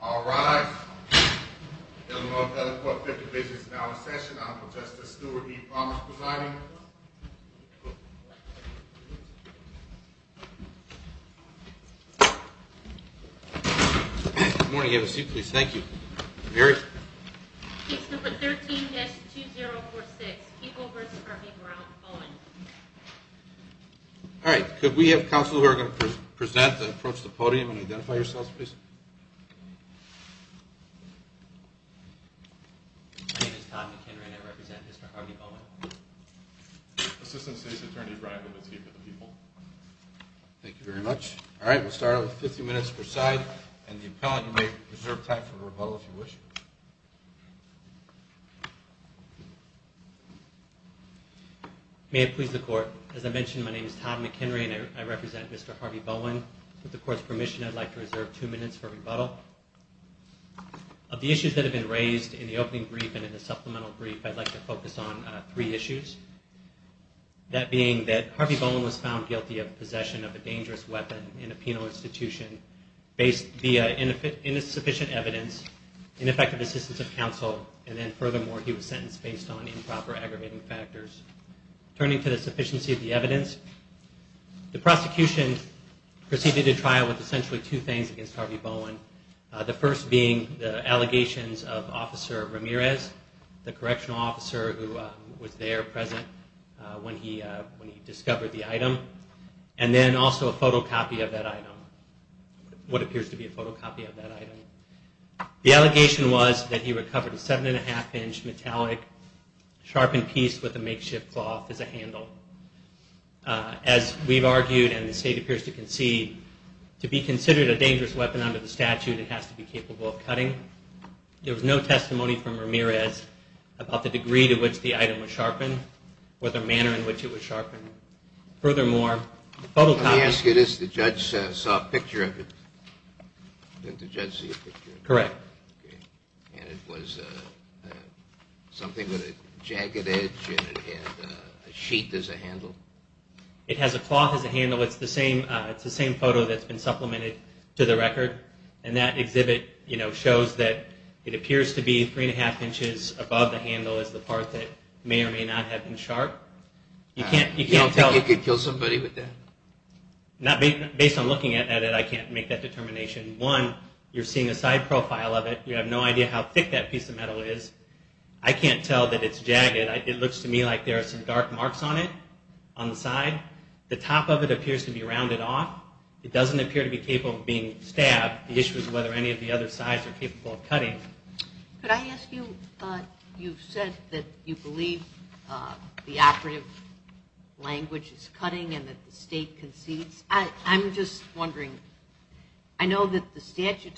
All rise. Illinois Appellate Court 50 Business Hour Session. I'm Justice Stuart B. Thomas presiding. Good morning. Have a seat, please. Thank you. Mary? Case number 13-2046, Keegle v. Irving Brown, Bowen. All right. Could we have counsel who are going to present and approach the podium and identify yourselves, please? My name is Todd McKenry, and I represent Mr. Harvey Bowen. Assistant State's Attorney Brian Wilkens here for the people. Thank you very much. All right. We'll start with 50 minutes per side. And the appellant, you may reserve time for rebuttal if you wish. May it please the Court. As I mentioned, my name is Todd McKenry, and I represent Mr. Harvey Bowen. With the Court's permission, I'd like to reserve two minutes for rebuttal. Of the issues that have been raised in the opening brief and in the supplemental brief, I'd like to focus on three issues, that being that Harvey Bowen was found guilty of possession of a dangerous weapon in a penal institution based on insufficient evidence, ineffective assistance of counsel, and then furthermore, he was sentenced based on improper aggravating factors. Turning to the sufficiency of the evidence, the prosecution proceeded to trial with essentially two things against Harvey Bowen. The first being the allegations of Officer Ramirez, the correctional officer who was there present when he discovered the item, and then also a photocopy of that item, what appears to be a photocopy of that item. The allegation was that he recovered a 7 1⁄2-inch metallic sharpened piece with a makeshift cloth as a handle. As we've argued and the State appears to concede, to be considered a dangerous weapon under the statute, it has to be capable of cutting. There was no testimony from Ramirez about the degree to which the item was sharpened. Or the manner in which it was sharpened. Furthermore, the photocopy... Let me ask you this. The judge saw a picture of it. Didn't the judge see a picture of it? Correct. And it was something with a jagged edge and it had a sheet as a handle? It has a cloth as a handle. It's the same photo that's been supplemented to the record. And that exhibit shows that it appears to be 3 1⁄2 inches above the handle as the part that may or may not have been sharpened. You could kill somebody with that. Based on looking at it, I can't make that determination. One, you're seeing a side profile of it. You have no idea how thick that piece of metal is. I can't tell that it's jagged. It looks to me like there are some dark marks on it, on the side. The top of it appears to be rounded off. It doesn't appear to be capable of being stabbed. The issue is whether any of the other sides are capable of cutting. Could I ask you, you said that you believe the operative language is cutting and that the state concedes. I'm just wondering, I know that the statute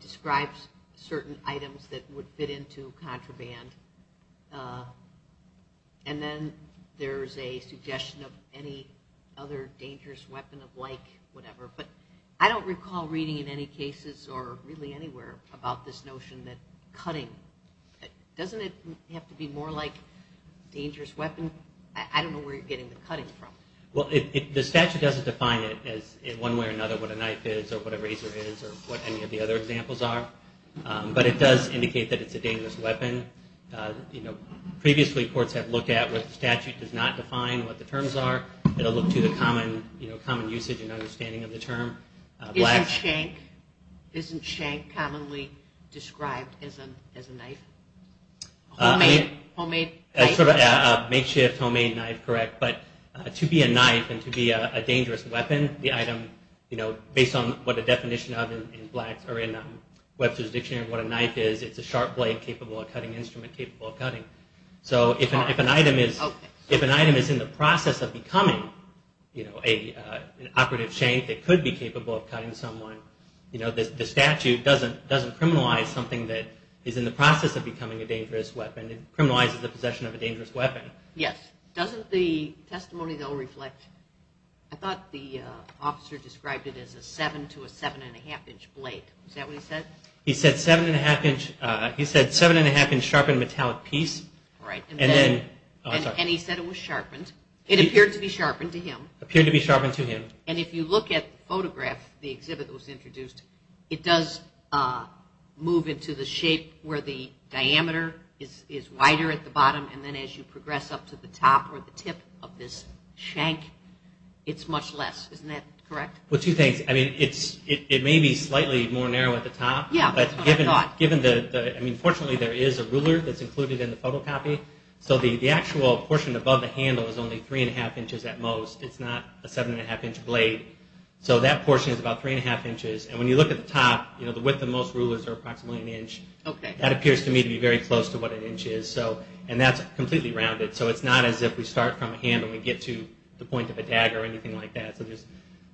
describes certain items that would fit into contraband. And then there's a suggestion of any other dangerous weapon of like, whatever. But I don't recall reading in any cases or really anywhere about this notion that cutting, doesn't it have to be more like dangerous weapon? I don't know where you're getting the cutting from. Well, the statute doesn't define it in one way or another what a knife is or what a razor is or what any of the other examples are. But it does indicate that it's a dangerous weapon. Previously, courts have looked at where the statute does not define what the terms are. It'll look to the common usage and understanding of the term. Isn't shank commonly described as a knife? A homemade knife? A makeshift homemade knife, correct. But to be a knife and to be a dangerous weapon, the item, based on what the definition of in Webster's Dictionary of what a knife is, it's a sharp blade capable of cutting, an instrument capable of cutting. So if an item is in the process of becoming an operative shank that could be capable of cutting someone, the statute doesn't criminalize something that is in the process of becoming a dangerous weapon. It criminalizes the possession of a dangerous weapon. Yes. Doesn't the testimony, though, reflect, I thought the officer described it as a seven to a seven and a half inch blade. Is that what he said? He said seven and a half inch sharpened metallic piece. And he said it was sharpened. It appeared to be sharpened to him. Appeared to be sharpened to him. And if you look at the photograph, the exhibit that was introduced, it does move into the shape where the diameter is wider at the bottom and then as you progress up to the top or the tip of this shank, it's much less. Isn't that correct? Well, two things. I mean, it may be slightly more narrow at the top. But given the, I mean, fortunately there is a ruler that's included in the photocopy. So the actual portion above the handle is only three and a half inches at most. It's not a seven and a half inch blade. So that portion is about three and a half inches. And when you look at the top, the width of most rulers are approximately an inch. That appears to me to be very close to what an inch is. And that's completely rounded. So it's not as if we start from a handle and we get to the point of a dagger or anything like that. So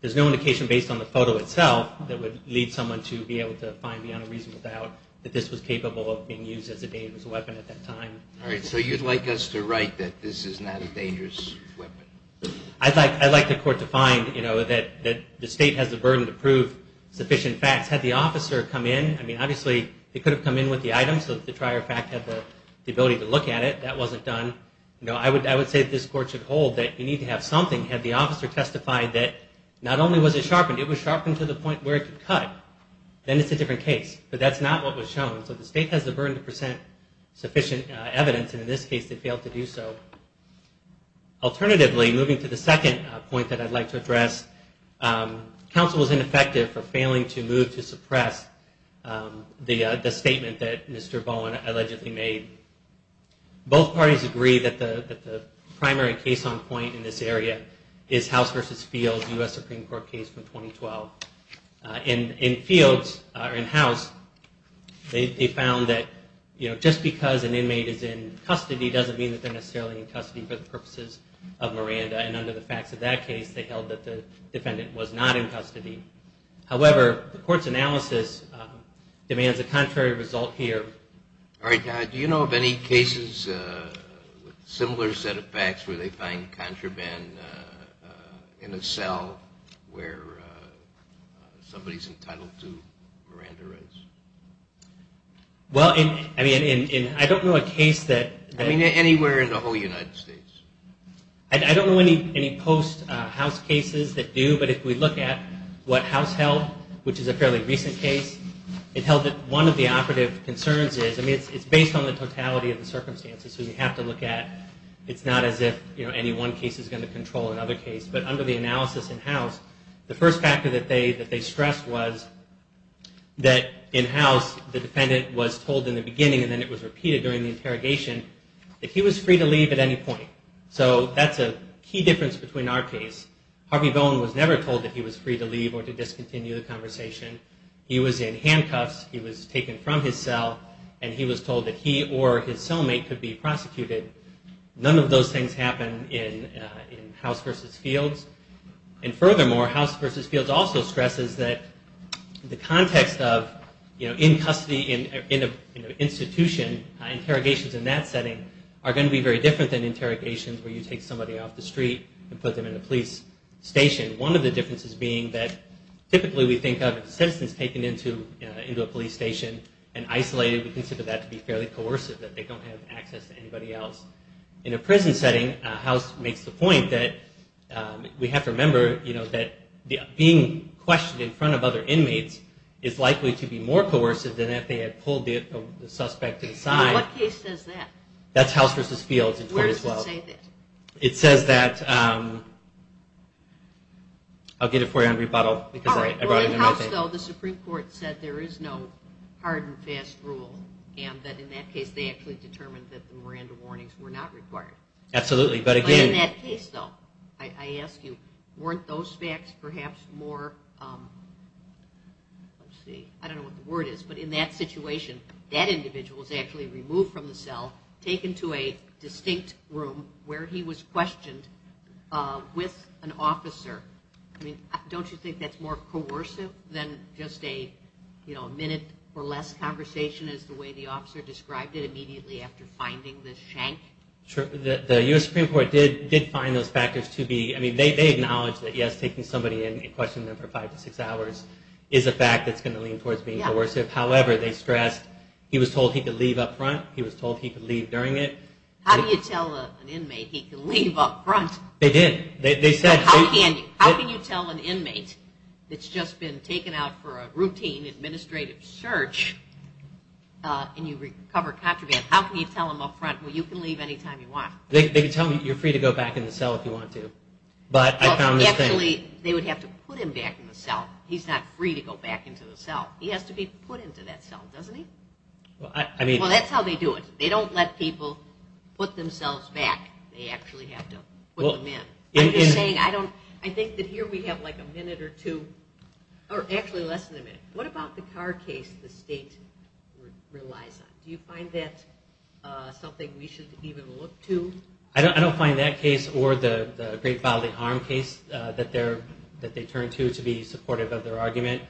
there's no indication based on the photo itself that would lead someone to be able to find beyond a reasonable doubt that this was capable of being used as a dangerous weapon at that time. All right. So you'd like us to write that this is not a dangerous weapon? I'd like the court to find that the state has the burden to prove sufficient facts. Had the officer come in, I mean, obviously they could have come in with the item so that the trier of fact had the ability to look at it. That wasn't done. I would say that this court should hold that you need to have something. Had the officer testified that not only was it sharpened, it was sharpened to the point where it could cut, then it's a different case. But that's not what was shown. So the state has the burden to present sufficient evidence, and in this case they failed to do so. Alternatively, moving to the second point that I'd like to address, counsel was ineffective for failing to move to suppress the statement that Mr. Bowen allegedly made. Both parties agree that the primary case on point in this area is House v. Fields, U.S. Supreme Court case from 2012. In Fields, or in House, they found that just because an inmate is in custody doesn't mean that they're necessarily in custody for the purposes of Miranda, and under the facts of that case they held that the defendant was not in custody. However, the court's analysis demands a contrary result here. All right. Do you know of any cases with similar set of facts where they find contraband in a cell where somebody's entitled to Miranda rights? Well, I mean, I don't know a case that... I mean, anywhere in the whole United States. I don't know any post-House cases that do, but if we look at what House held, which is a fairly recent case, it held that one of the operative concerns is, I mean, it's based on the totality of the circumstances, so you have to look at, it's not as if, you know, any one case is going to control another case, but under the analysis in House, the first factor that they stressed was that in House, the defendant was told in the beginning, and then it was repeated during the interrogation, that he was free to leave at any point. So that's a key difference between our case. Harvey Bowen was never told that he was free to leave or to discontinue the conversation. He was in handcuffs. He was taken from his cell, and he was told that he or his cellmate could be prosecuted. None of those things happen in House v. Fields. And furthermore, House v. Fields also stresses that the context of, you know, in custody, in an institution, interrogations in that setting are going to be very different than interrogations where you take somebody off the street and put them in a police station. One of the differences being that typically we think of citizens taken into a police station and isolated, we consider that to be fairly coercive, that they don't have access to anybody else. In a prison setting, House makes the point that we have to remember, you know, that being questioned in front of other inmates is likely to be more coercive than if they had pulled the suspect to the side. What case says that? That's House v. Fields in 2012. Where does it say that? It says that, I'll get it for you on rebuttal. All right. Well, in House, though, the Supreme Court said there is no hard and fast rule, and that in that case they actually determined that the Miranda warnings were not required. Absolutely. But in that case, though, I ask you, weren't those facts perhaps more, let's see, I don't know what the word is, but in that situation, that individual is actually removed from the cell, taken to a distinct room where he was questioned with an officer. I mean, don't you think that's more coercive than just a, you know, a minute or less conversation is the way the officer described it immediately after finding the shank? Sure. The U.S. Supreme Court did find those factors to be, I mean, they acknowledge that, yes, taking somebody in and questioning them for five to six hours is a fact that's going to lean towards being coercive. However, they stressed he was told he could leave up front, he was told he could leave during it. How do you tell an inmate he can leave up front? They did. How can you? How can you tell an inmate that's just been taken out for a routine administrative search and you've recovered contraband, how can you tell him up front, well, you can leave any time you want? They could tell him you're free to go back in the cell if you want to. Well, actually, they would have to put him back in the cell. He's not free to go back into the cell. He has to be put into that cell, doesn't he? Well, that's how they do it. They don't let people put themselves back. They actually have to put them in. I'm just saying I think that here we have like a minute or two, or actually less than a minute. What about the car case the state relies on? Do you find that something we should even look to? I don't find that case or the great bodily harm case that they turn to to be supportive of their argument.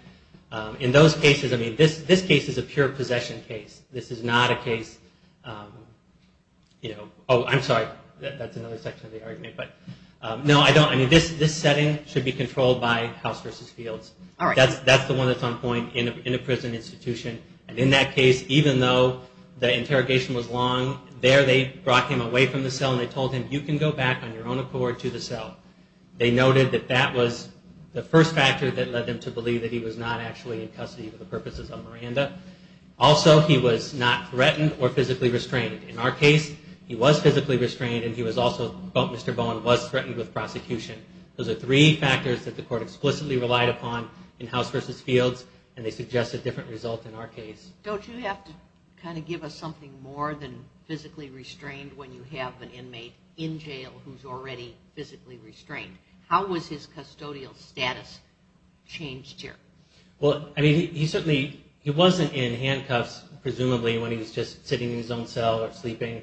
In those cases, I mean, this case is a pure possession case. This is not a case, you know, oh, I'm sorry. That's another section of the argument, but no, I don't. I mean, this setting should be controlled by House v. Fields. That's the one that's on point in a prison institution. And in that case, even though the interrogation was long, there they brought him away from the cell and they told him you can go back on your own accord to the cell. They noted that that was the first factor that led them to believe that he was not actually in custody for the purposes of Miranda. Also, he was not threatened or physically restrained. In our case, he was physically restrained and he was also, Mr. Bowen was threatened with prosecution. Those are three factors that the court explicitly relied upon in House v. Fields and they suggested different results in our case. Don't you have to kind of give us something more than physically restrained when you have an inmate in jail who's already physically restrained? How was his custodial status changed here? Well, I mean, he certainly, he wasn't in handcuffs, presumably, when he was just sitting in his own cell or sleeping.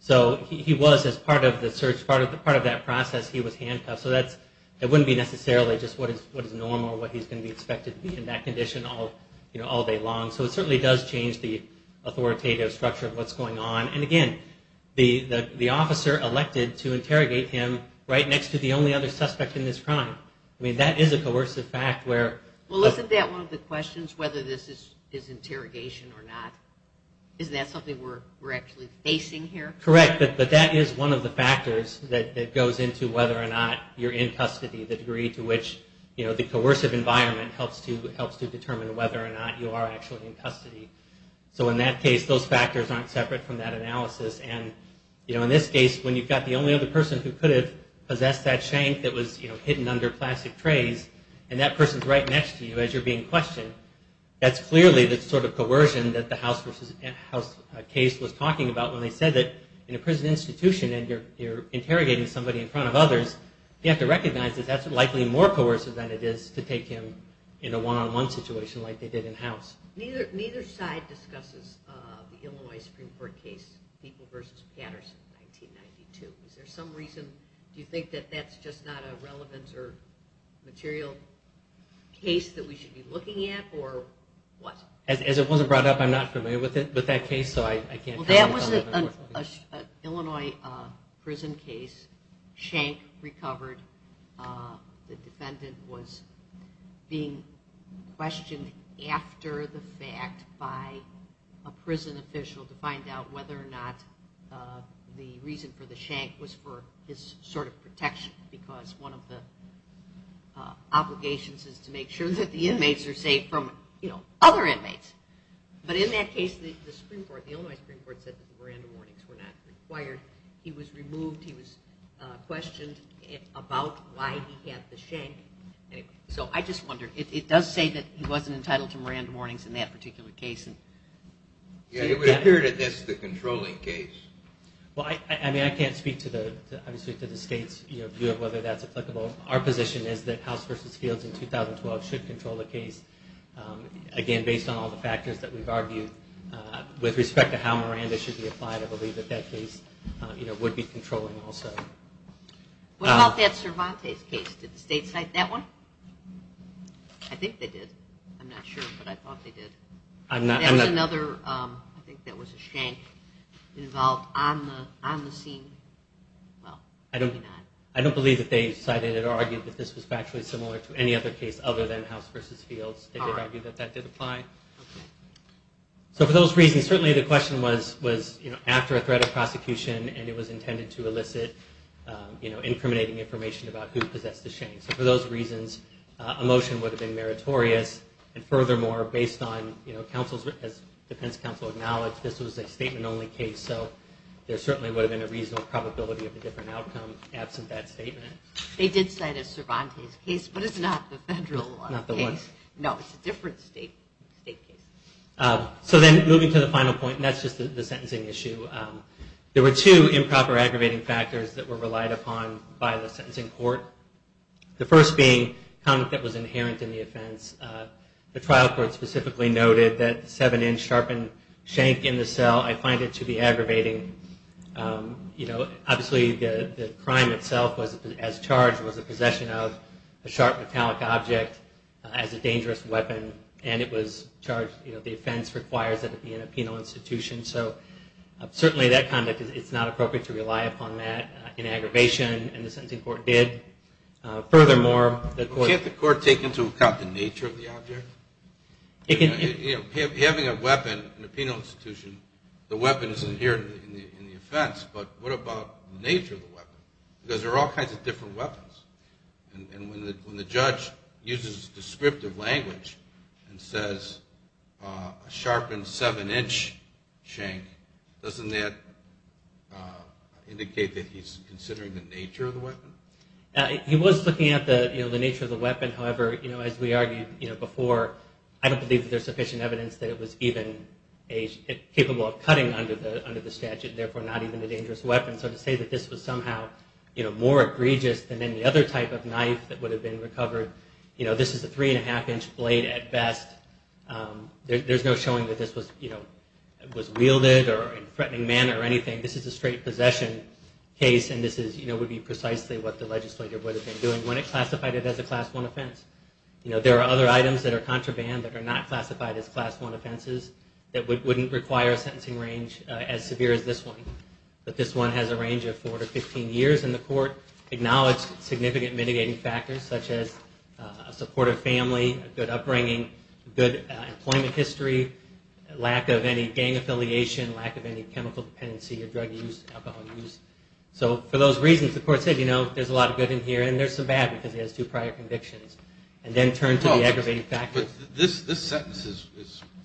So he was, as part of the search, part of that process, he was handcuffed. So that wouldn't be necessarily just what is normal or what he's going to be expected to be in that condition all day long. So it certainly does change the authoritative structure of what's going on. And again, the officer elected to interrogate him right next to the only other suspect in this crime. I mean, that is a coercive fact where... Well, isn't that one of the questions, whether this is interrogation or not? Is that something we're actually facing here? Correct, but that is one of the factors that goes into whether or not you're in custody, the degree to which the coercive environment helps to determine whether or not you are actually in custody. So in that case, those factors aren't separate from that analysis. And in this case, when you've got the only other person who could have possessed that shank that was hidden under plastic trays, and that person's right next to you as you're being questioned, that's clearly the sort of coercion that the House case was talking about when they said that in a prison institution and you're interrogating somebody in front of others, you have to recognize that that's likely more coercive than it is to take him in a one-on-one situation like they did in House. Neither side discusses the Illinois Supreme Court case, People v. Patterson, 1992. Is there some reason? Do you think that that's just not a relevant or material case that we should be looking at, or what? As it wasn't brought up, I'm not familiar with that case, so I can't comment on it. Well, that was an Illinois prison case. Shank recovered. The defendant was being questioned after the fact by a prison official to find out whether or not the reason for the shank was for his sort of protection because one of the obligations is to make sure that the inmates are safe from, you know, other inmates. But in that case, the Illinois Supreme Court said that the Miranda warnings were not required. He was removed. He was questioned about why he had the shank. So I just wondered. It does say that he wasn't entitled to Miranda warnings in that particular case. Yeah, it would appear that that's the controlling case. Well, I mean, I can't speak to the state's view of whether that's applicable. Our position is that House v. Fields in 2012 should control the case, again, based on all the factors that we've argued with respect to how Miranda should be applied, I believe that that case would be controlling also. What about that Cervantes case? Did the state cite that one? I think they did. I'm not sure, but I thought they did. That was another, I think that was a shank involved on the scene. Well, maybe not. I don't believe that they cited it or argued that this was factually similar to any other case other than House v. Fields. They did argue that that did apply. So for those reasons, certainly the question was after a threat of prosecution and it was intended to elicit incriminating information about who possessed the shank. So for those reasons, a motion would have been meritorious. And furthermore, based on counsel's, as defense counsel acknowledged, this was a statement-only case, so there certainly would have been a reasonable probability of a different outcome absent that statement. They did cite a Cervantes case, but it's not the federal case. Not the one? No, it's a different state case. So then moving to the final point, and that's just the sentencing issue. There were two improper aggravating factors that were relied upon by the sentencing court, the first being conduct that was inherent in the offense. The trial court specifically noted that the 7-inch sharpened shank in the cell, I find it to be aggravating. Obviously the crime itself as charged was the possession of a sharp metallic object as a dangerous weapon, and it was charged, the offense requires that it be in a penal institution. So certainly that conduct, it's not appropriate to rely upon that in aggravation, and the sentencing court did. Furthermore, the court- Can't the court take into account the nature of the object? Having a weapon in a penal institution, the weapon is inherent in the offense, but what about the nature of the weapon? Because there are all kinds of different weapons, and when the judge uses descriptive language and says a sharpened 7-inch shank, doesn't that indicate that he's considering the nature of the weapon? He was looking at the nature of the weapon. However, as we argued before, I don't believe there's sufficient evidence that it was even capable of cutting under the statute, therefore not even a dangerous weapon. So to say that this was somehow more egregious than any other type of knife that would have been recovered, this is a 3-1⁄2-inch blade at best. There's no showing that this was wielded in a threatening manner or anything. This is a straight possession case, and this would be precisely what the legislature would have been doing when it classified it as a Class I offense. There are other items that are contraband that are not classified as Class I offenses that wouldn't require a sentencing range as severe as this one. But this one has a range of 4 to 15 years, and the court acknowledged significant mitigating factors such as a supportive family, good upbringing, good employment history, lack of any gang affiliation, lack of any chemical dependency or drug use, alcohol use. So for those reasons, the court said there's a lot of good in here and there's some bad because he has two prior convictions, and then turned to the aggravating factors. But this sentence is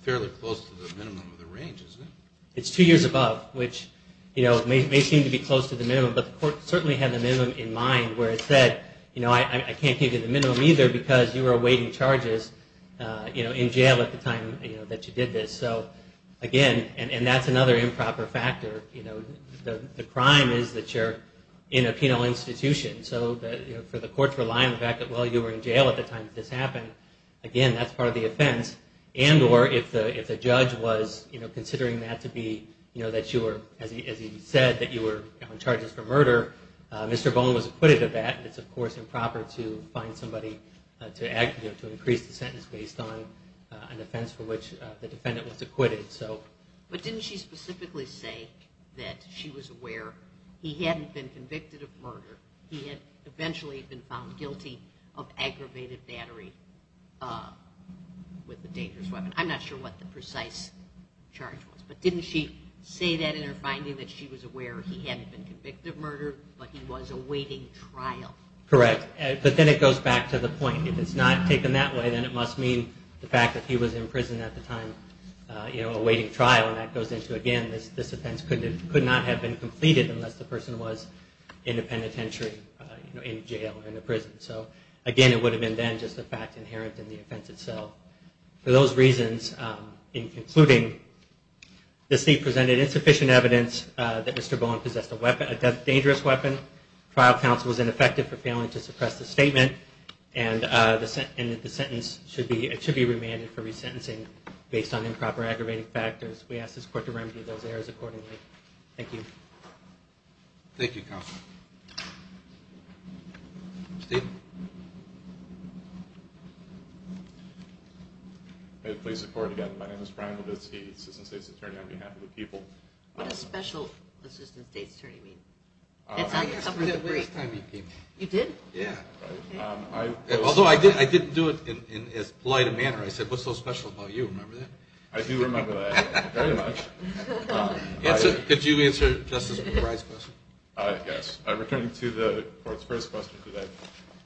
fairly close to the minimum of the range, isn't it? It's two years above, which may seem to be close to the minimum, but the court certainly had the minimum in mind where it said I can't give you the minimum either because you were awaiting charges in jail at the time that you did this. So again, and that's another improper factor. The crime is that you're in a penal institution, so the courts rely on the fact that, well, you were in jail at the time this happened. Again, that's part of the offense. And or if the judge was considering that to be that you were, as he said, that you were on charges for murder, Mr. Bone was acquitted of that. It's, of course, improper to find somebody to increase the sentence based on an offense for which the defendant was acquitted. But didn't she specifically say that she was aware he hadn't been convicted of murder, he had eventually been found guilty of aggravated battery with a dangerous weapon? I'm not sure what the precise charge was, but didn't she say that in her finding that she was aware he hadn't been convicted of murder, but he was awaiting trial? Correct. But then it goes back to the point. If it's not taken that way, then it must mean the fact that he was in prison at the time awaiting trial, and that goes into, again, this offense could not have been completed unless the person was in a penitentiary, in jail or in a prison. So again, it would have been then just a fact inherent in the offense itself. For those reasons, in concluding, the state presented insufficient evidence that Mr. Bone possessed a dangerous weapon, trial counsel was ineffective for failing to suppress the statement, and that the sentence should be remanded for resentencing based on improper aggravating factors. We ask this court to remedy those errors accordingly. Thank you. Thank you, counsel. Steve? May it please the Court again, my name is Brian Levitsky, Assistant State's Attorney on behalf of the people. What does Special Assistant State's Attorney mean? It's on the cover of the brief. You did? Yeah. Although I didn't do it in as polite a manner. I said, what's so special about you, remember that? I do remember that very much. Could you answer Justice Brey's question? Yes. Returning to the Court's first question today,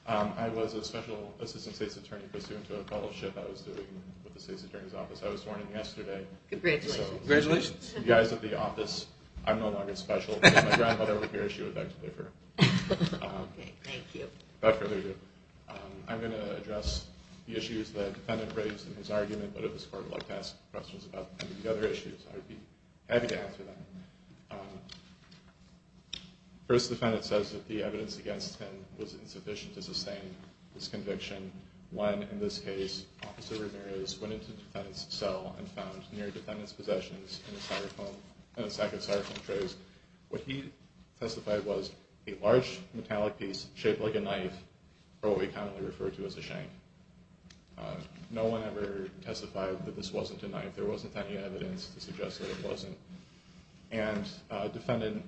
I was a Special Assistant State's Attorney pursuant to a fellowship I was doing with the State's Attorney's Office. I was sworn in yesterday. Congratulations. Congratulations. The guys at the office, I'm no longer special. My grandmother would be here if she would like to pay for it. Okay, thank you. Without further ado, I'm going to address the issues that the defendant raised in his argument, but if the Court would like to ask questions about any of the other issues, I would be happy to answer them. First, the defendant says that the evidence against him was insufficient to sustain this conviction. When, in this case, Officer Ramirez went into the defendant's cell and found near the defendant's possessions in a sack of styrofoam trays, what he testified was a large metallic piece shaped like a knife, or what we commonly refer to as a shank. No one ever testified that this wasn't a knife. There wasn't any evidence to suggest that it wasn't. And the defendant,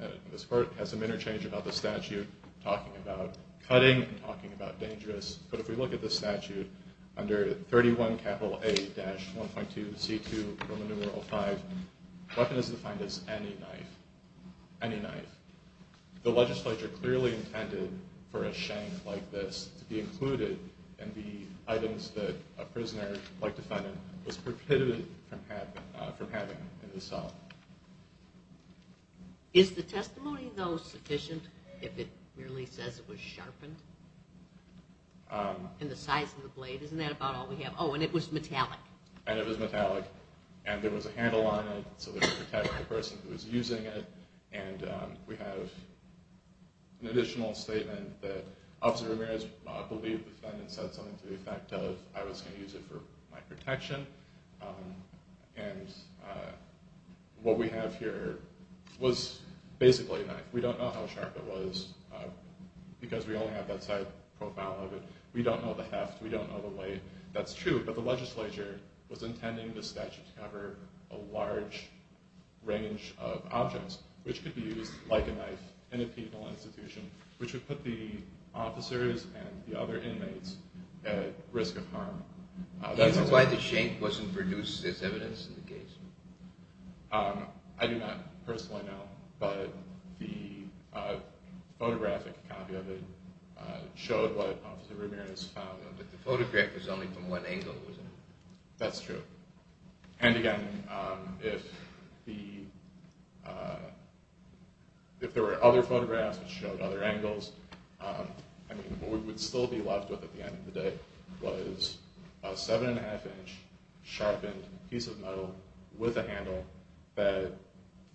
in this court, has some interchange about the statute talking about cutting and talking about dangerous, but if we look at the statute, under 31 capital A dash 1.2 C2 Roman numeral V, weapon is defined as any knife, any knife. The legislature clearly intended for a shank like this to be included in the items that a prisoner, like defendant, was prohibited from having in his cell. Is the testimony, though, sufficient if it merely says it was sharpened? And the size of the blade, isn't that about all we have? Oh, and it was metallic. And it was metallic, and there was a handle on it, so that it protected the person who was using it. And we have an additional statement that Officer Ramirez believed the defendant said something to the effect of I was going to use it for my protection. And what we have here was basically a knife. We don't know how sharp it was, because we only have that side profile of it. We don't know the heft, we don't know the weight. That's true, but the legislature was intending the statute to cover a large range of objects, which could be used like a knife in a penal institution, which would put the officers and the other inmates at risk of harm. Do you know why the shank wasn't produced as evidence in the case? I do not personally know, but the photographic copy of it showed what Officer Ramirez found. But the photograph was only from one angle, wasn't it? That's true. And again, if there were other photographs which showed other angles, what we would still be left with at the end of the day was a 7 1⁄2-inch sharpened piece of metal with a handle that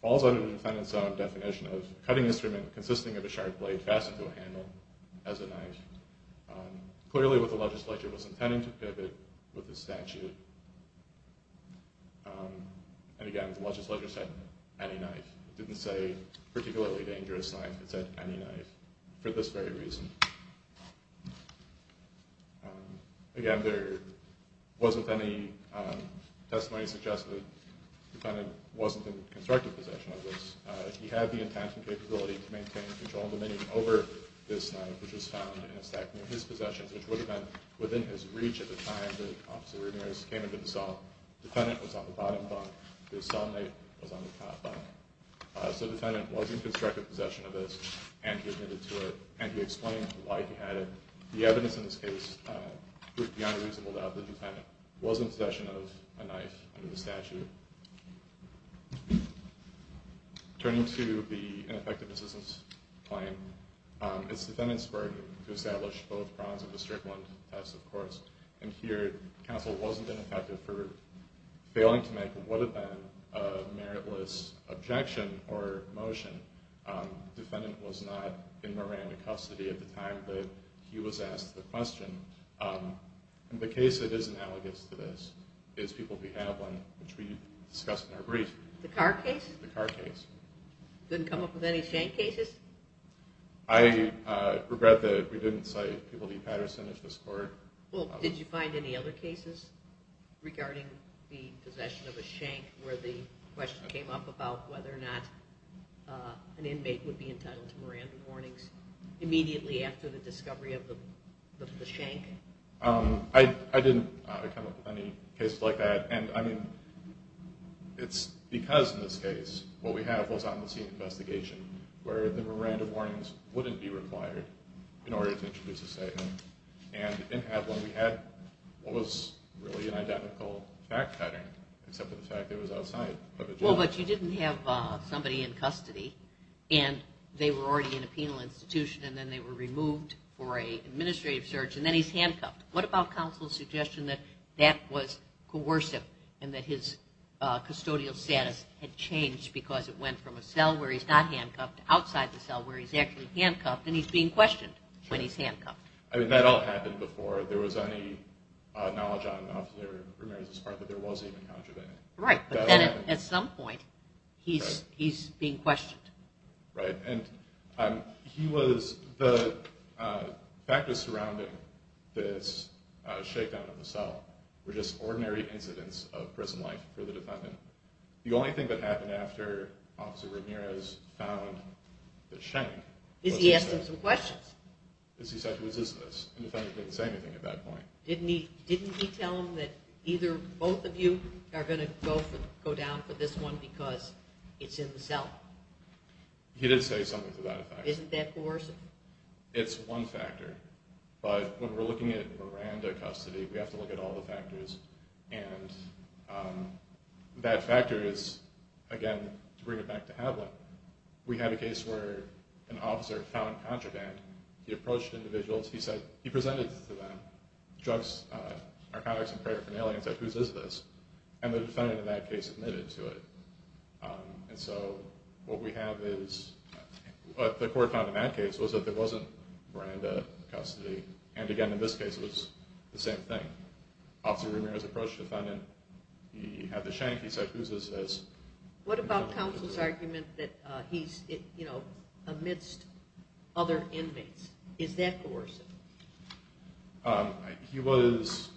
falls under the defendant's own definition of a cutting instrument consisting of a sharp blade fastened to a handle as a knife. Clearly what the legislature was intending to pivot with the statute And again, the legislature said any knife. It didn't say particularly dangerous knife. It said any knife for this very reason. Again, there wasn't any testimony suggesting the defendant wasn't in constructive possession of this. He had the intention and capability to maintain control and dominion over this knife, which was found in a stack near his possessions, which would have been within his reach at the time that Officer Ramirez came into the cell. The defendant was on the bottom bunk. His cellmate was on the top bunk. So the defendant wasn't in constructive possession of this, and he admitted to it, and he explained why he had it. The evidence in this case proved beyond reasonable doubt that the defendant was in possession of a knife under the statute. Turning to the ineffective assistance claim, it's the defendant's burden to establish both grounds of the Strickland test, of course. And here, counsel wasn't ineffective for failing to make what had been a meritless objection or motion. The defendant was not in Miranda custody at the time that he was asked the question. And the case that is analogous to this is People v. Haviland, which we discussed in our brief. The Carr case? The Carr case. Didn't come up with any shame cases? I regret that we didn't cite People v. Patterson in this court. Well, did you find any other cases regarding the possession of a shank where the question came up about whether or not an inmate would be entitled to Miranda warnings immediately after the discovery of the shank? I didn't come up with any cases like that. And, I mean, it's because, in this case, what we have was on-the-scene investigation where the Miranda warnings wouldn't be required in order to introduce a statement. And in Haviland, we had what was really an identical fact pattern, except for the fact that it was outside of a judge. Well, but you didn't have somebody in custody, and they were already in a penal institution, and then they were removed for an administrative search, and then he's handcuffed. What about counsel's suggestion that that was coercive and that his custodial status had changed because it went from a cell where he's not handcuffed to outside the cell where he's actually handcuffed, and he's being questioned when he's handcuffed? I mean, that all happened before there was any knowledge on an officer for Miranda's part that there was even contravening. Right, but then at some point, he's being questioned. Right. And the factors surrounding this shakedown of the cell were just ordinary incidents of prison life for the defendant. The only thing that happened after Officer Ramirez found the chain... Is he asking some questions? Is he said, who is this? The defendant didn't say anything at that point. Didn't he tell him that either both of you are going to go down for this one because it's in the cell? He did say something to that effect. Isn't that coercive? It's one factor. But when we're looking at Miranda custody, we have to look at all the factors. And that factor is, again, to bring it back to Havlin, we had a case where an officer found contraband. He approached individuals. He presented it to them, drugs, narcotics, and paraphernalia, and said, whose is this? And the defendant in that case admitted to it. And so what we have is what the court found in that case was that there wasn't Miranda custody. And, again, in this case it was the same thing. Officer Ramirez approached the defendant. He had the shank. He said, whose is this? What about counsel's argument that he's amidst other inmates? Is that coercive? He was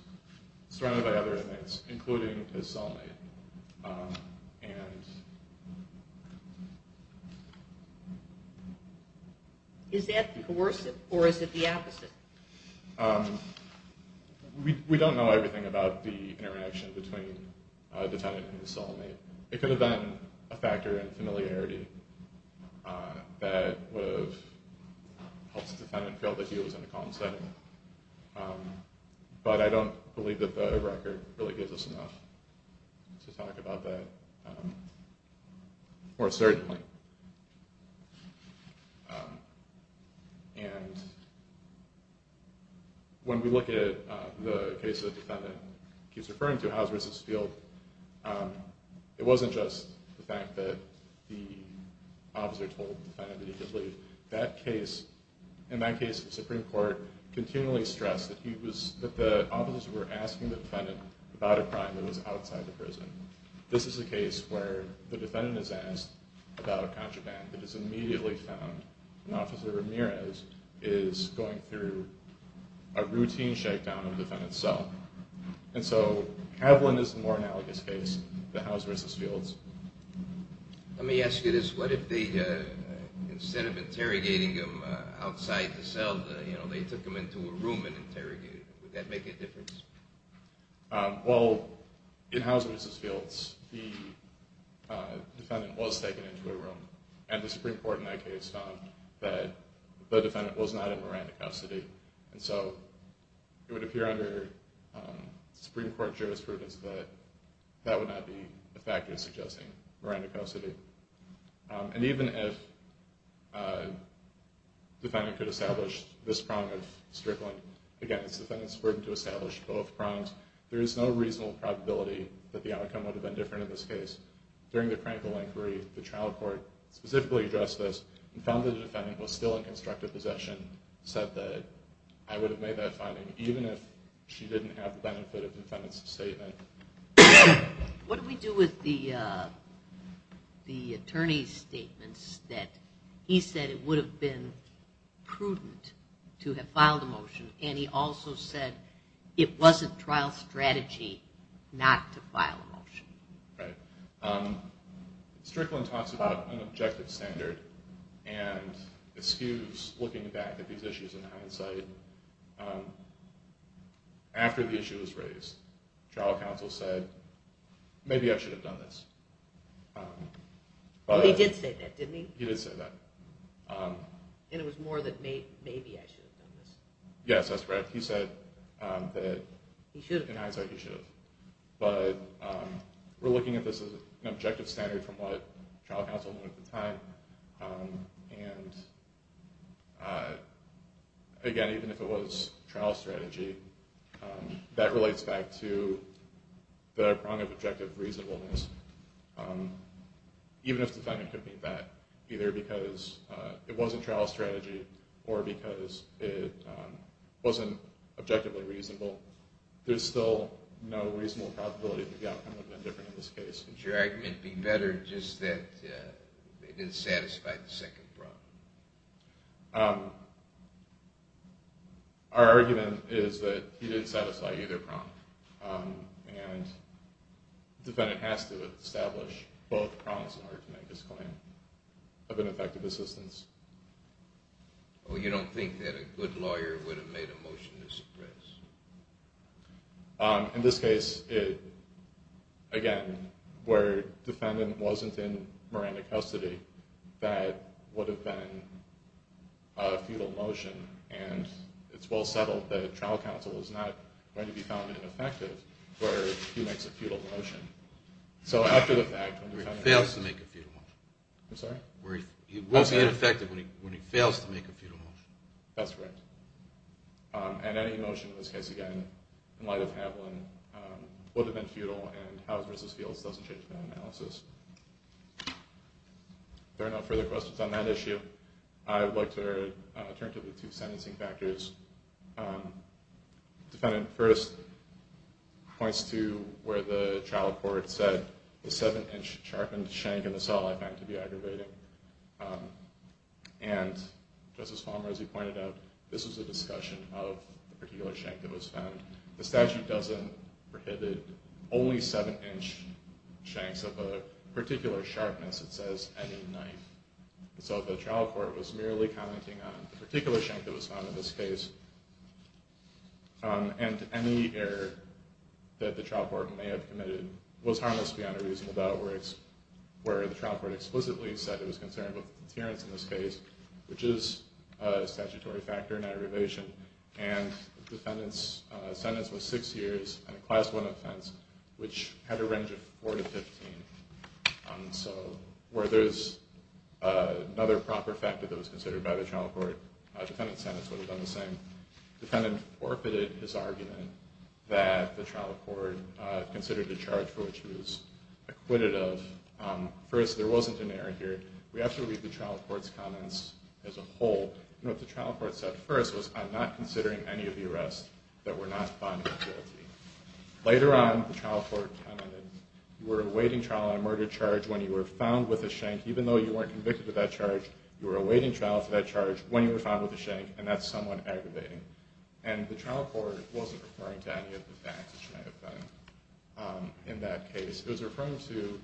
surrounded by other inmates, including his cellmate. And... Is that coercive, or is it the opposite? We don't know everything about the interaction between the defendant and his cellmate. It could have been a factor in familiarity that would have helped the defendant feel that he was in a calm setting. But I don't believe that the record really gives us enough to talk about that. More certainly. And when we look at the case that the defendant keeps referring to, Howze vs. Field, it wasn't just the fact that the officer told the defendant that he could leave. In that case, the Supreme Court continually stressed that the officers were asking the defendant about a crime that was outside the prison. This is a case where the defendant is asked about a contraband that is immediately found, and Officer Ramirez is going through a routine shakedown of the defendant's cell. And so Kavelin is the more analogous case to Howze vs. Field's. Let me ask you this. Instead of interrogating him outside the cell, they took him into a room and interrogated him. Would that make a difference? Well, in Howze vs. Field's, the defendant was taken into a room, and the Supreme Court in that case found that the defendant was not in Miranda custody. And so it would appear under Supreme Court jurisprudence that that would not be a factor in suggesting Miranda custody. And even if the defendant could establish this prong of strickling, again, it's the defendant's burden to establish both prongs, there is no reasonable probability that the outcome would have been different in this case. During the Krankel inquiry, the trial court specifically addressed this and found that the defendant was still in constructive possession, said that, I would have made that finding even if she didn't have the benefit of the defendant's statement. What do we do with the attorney's statements that he said it would have been prudent to have filed a motion, and he also said it was a trial strategy not to file a motion? Right. Strickland talks about an objective standard and eschews looking back at these issues in hindsight. After the issue was raised, trial counsel said, maybe I should have done this. He did say that, didn't he? He did say that. And it was more than maybe I should have done this. Yes, that's correct. He said that in hindsight he should have. But we're looking at this as an objective standard from what trial counsel knew at the time. And again, even if it was a trial strategy, that relates back to the prong of objective reasonableness. Even if the defendant could mean that, either because it was a trial strategy or because it wasn't objectively reasonable, there's still no reasonable probability that the outcome would have been different in this case. Wouldn't your argument be better just that they didn't satisfy the second prong? Our argument is that he didn't satisfy either prong, and the defendant has to establish both prongs in order to make his claim of ineffective assistance. Well, you don't think that a good lawyer would have made a motion to suppress? In this case, again, where the defendant wasn't in Miranda custody, that would have been a futile motion. And it's well settled that trial counsel is not going to be found ineffective where he makes a futile motion. He fails to make a futile motion. I'm sorry? He won't be ineffective when he fails to make a futile motion. That's right. And any motion in this case, again, in light of Haviland, would have been futile, and Howes v. Fields doesn't change my analysis. If there are no further questions on that issue, I would like to turn to the two sentencing factors. The defendant first points to where the trial court said, the 7-inch sharpened shank in the cell I found to be aggravating. And Justice Palmer, as you pointed out, this was a discussion of the particular shank that was found. The statute doesn't prohibit only 7-inch shanks of a particular sharpness. It says any knife. So if the trial court was merely commenting on the particular shank that was found in this case and any error that the trial court may have committed was harmless beyond a reasonable doubt where the trial court explicitly said it was concerned with deterrence in this case, which is a statutory factor in aggravation. And the defendant's sentence was 6 years and a Class 1 offense, which had a range of 4 to 15. So where there's another proper factor that was considered by the trial court, the defendant's sentence would have done the same. The defendant orpheted his argument that the trial court considered the charge for which he was acquitted of. First, there wasn't an error here. We have to read the trial court's comments as a whole. What the trial court said first was, I'm not considering any of the arrests that were not found guilty. Later on, the trial court commented, you were awaiting trial on a murder charge when you were found with a shank. Even though you weren't convicted of that charge, you were awaiting trial for that charge when you were found with a shank, and that's somewhat aggravating. And the trial court wasn't referring to any of the facts which may have been in that case. It was referring to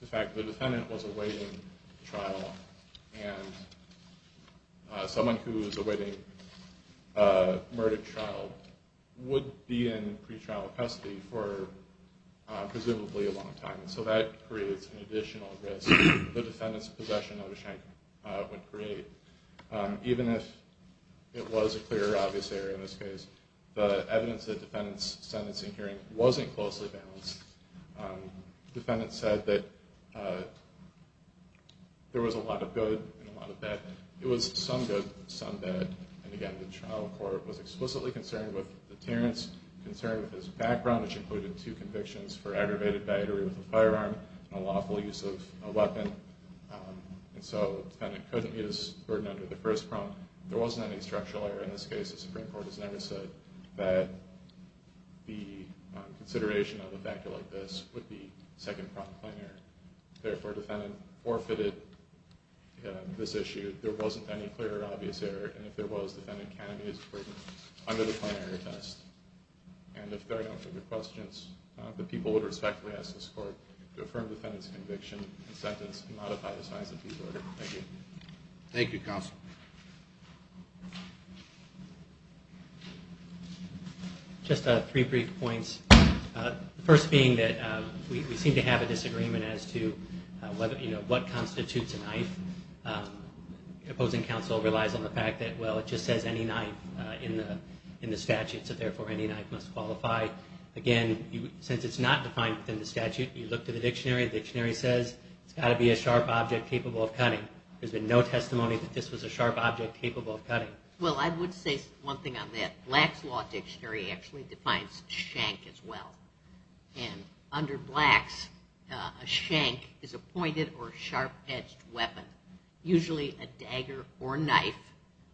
the fact that the defendant was awaiting trial, and someone who's awaiting a murder trial would be in pretrial custody for presumably a long time. So that creates an additional risk that the defendant's possession of the shank would create. Even if it was a clear, obvious error in this case, the evidence of the defendant's sentencing hearing wasn't closely balanced. The defendant said that there was a lot of good and a lot of bad. It was some good, some bad. And again, the trial court was explicitly concerned with the deterrence, concerned with his background, which included two convictions for aggravated battery with a firearm and unlawful use of a weapon. And so the defendant couldn't meet his burden under the first prompt. There wasn't any structural error in this case. The Supreme Court has never said that the consideration of a factor like this would be second-prompt plenary. Therefore, the defendant forfeited this issue. There wasn't any clear or obvious error. And if there was, the defendant can be acquitted under the plenary test. And if there are no further questions, the people would respectfully ask this Court to affirm the defendant's conviction and sentence and modify the size of his order. Thank you. Thank you, Counsel. Just three brief points. The first being that we seem to have a disagreement as to what constitutes a knife. The opposing counsel relies on the fact that, well, it just says any knife in the statute, so therefore any knife must qualify. Again, since it's not defined within the statute, you look to the dictionary, the dictionary says it's got to be a sharp object capable of cutting. There's been no testimony that this was a sharp object capable of cutting. Well, I would say one thing on that. Black's Law Dictionary actually defines shank as well. And under Black's, a shank is a pointed or sharp-edged weapon, usually a dagger or knife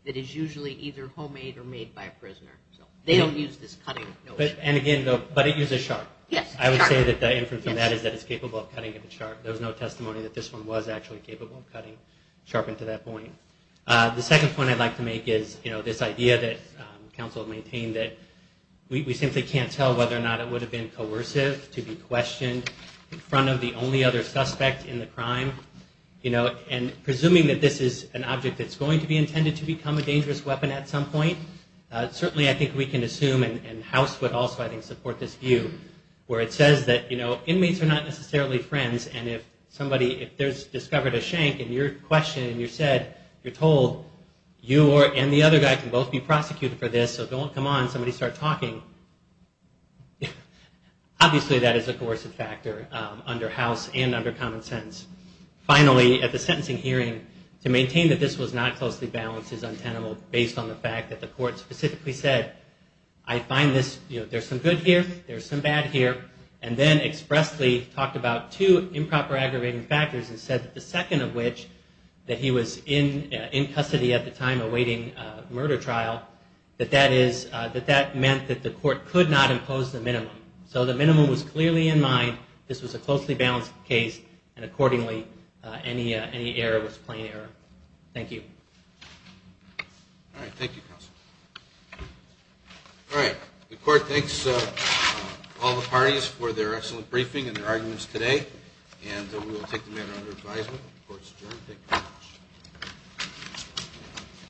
that is usually either homemade or made by a prisoner. So they don't use this cutting notion. And again, but it uses sharp. I would say that the inference from that is that it's capable of cutting if it's sharp. There was no testimony that this one was actually capable of cutting sharpened to that point. The second point I'd like to make is, you know, this idea that counsel maintained that we simply can't tell whether or not it would have been coercive to be questioned in front of the only other suspect in the crime. You know, and presuming that this is an object that's going to be intended to become a dangerous weapon at some point, certainly I think we can assume and House would also, I think, support this view where it says that, you know, inmates are not necessarily friends and if somebody, if there's discovered a shank and you're questioned and you're said, you're told, you and the other guy can both be prosecuted for this. So don't come on. Somebody start talking. Obviously that is a coercive factor under House and under common sense. Finally, at the sentencing hearing, to maintain that this was not closely balanced is untenable based on the fact that the court specifically said, I find this, you know, there's some good here, there's some bad here, and then expressly talked about two improper aggravating factors and said that the second of which, that he was in custody at the time awaiting murder trial, that that is, that that meant that the court could not impose the minimum. So the minimum was clearly in mind, this was a closely balanced case and accordingly any error was plain error. Thank you. All right. Thank you, counsel. All right. The court thanks all the parties for their excellent briefing and their arguments today and we will take the matter under advisement. Court is adjourned. Thank you very much.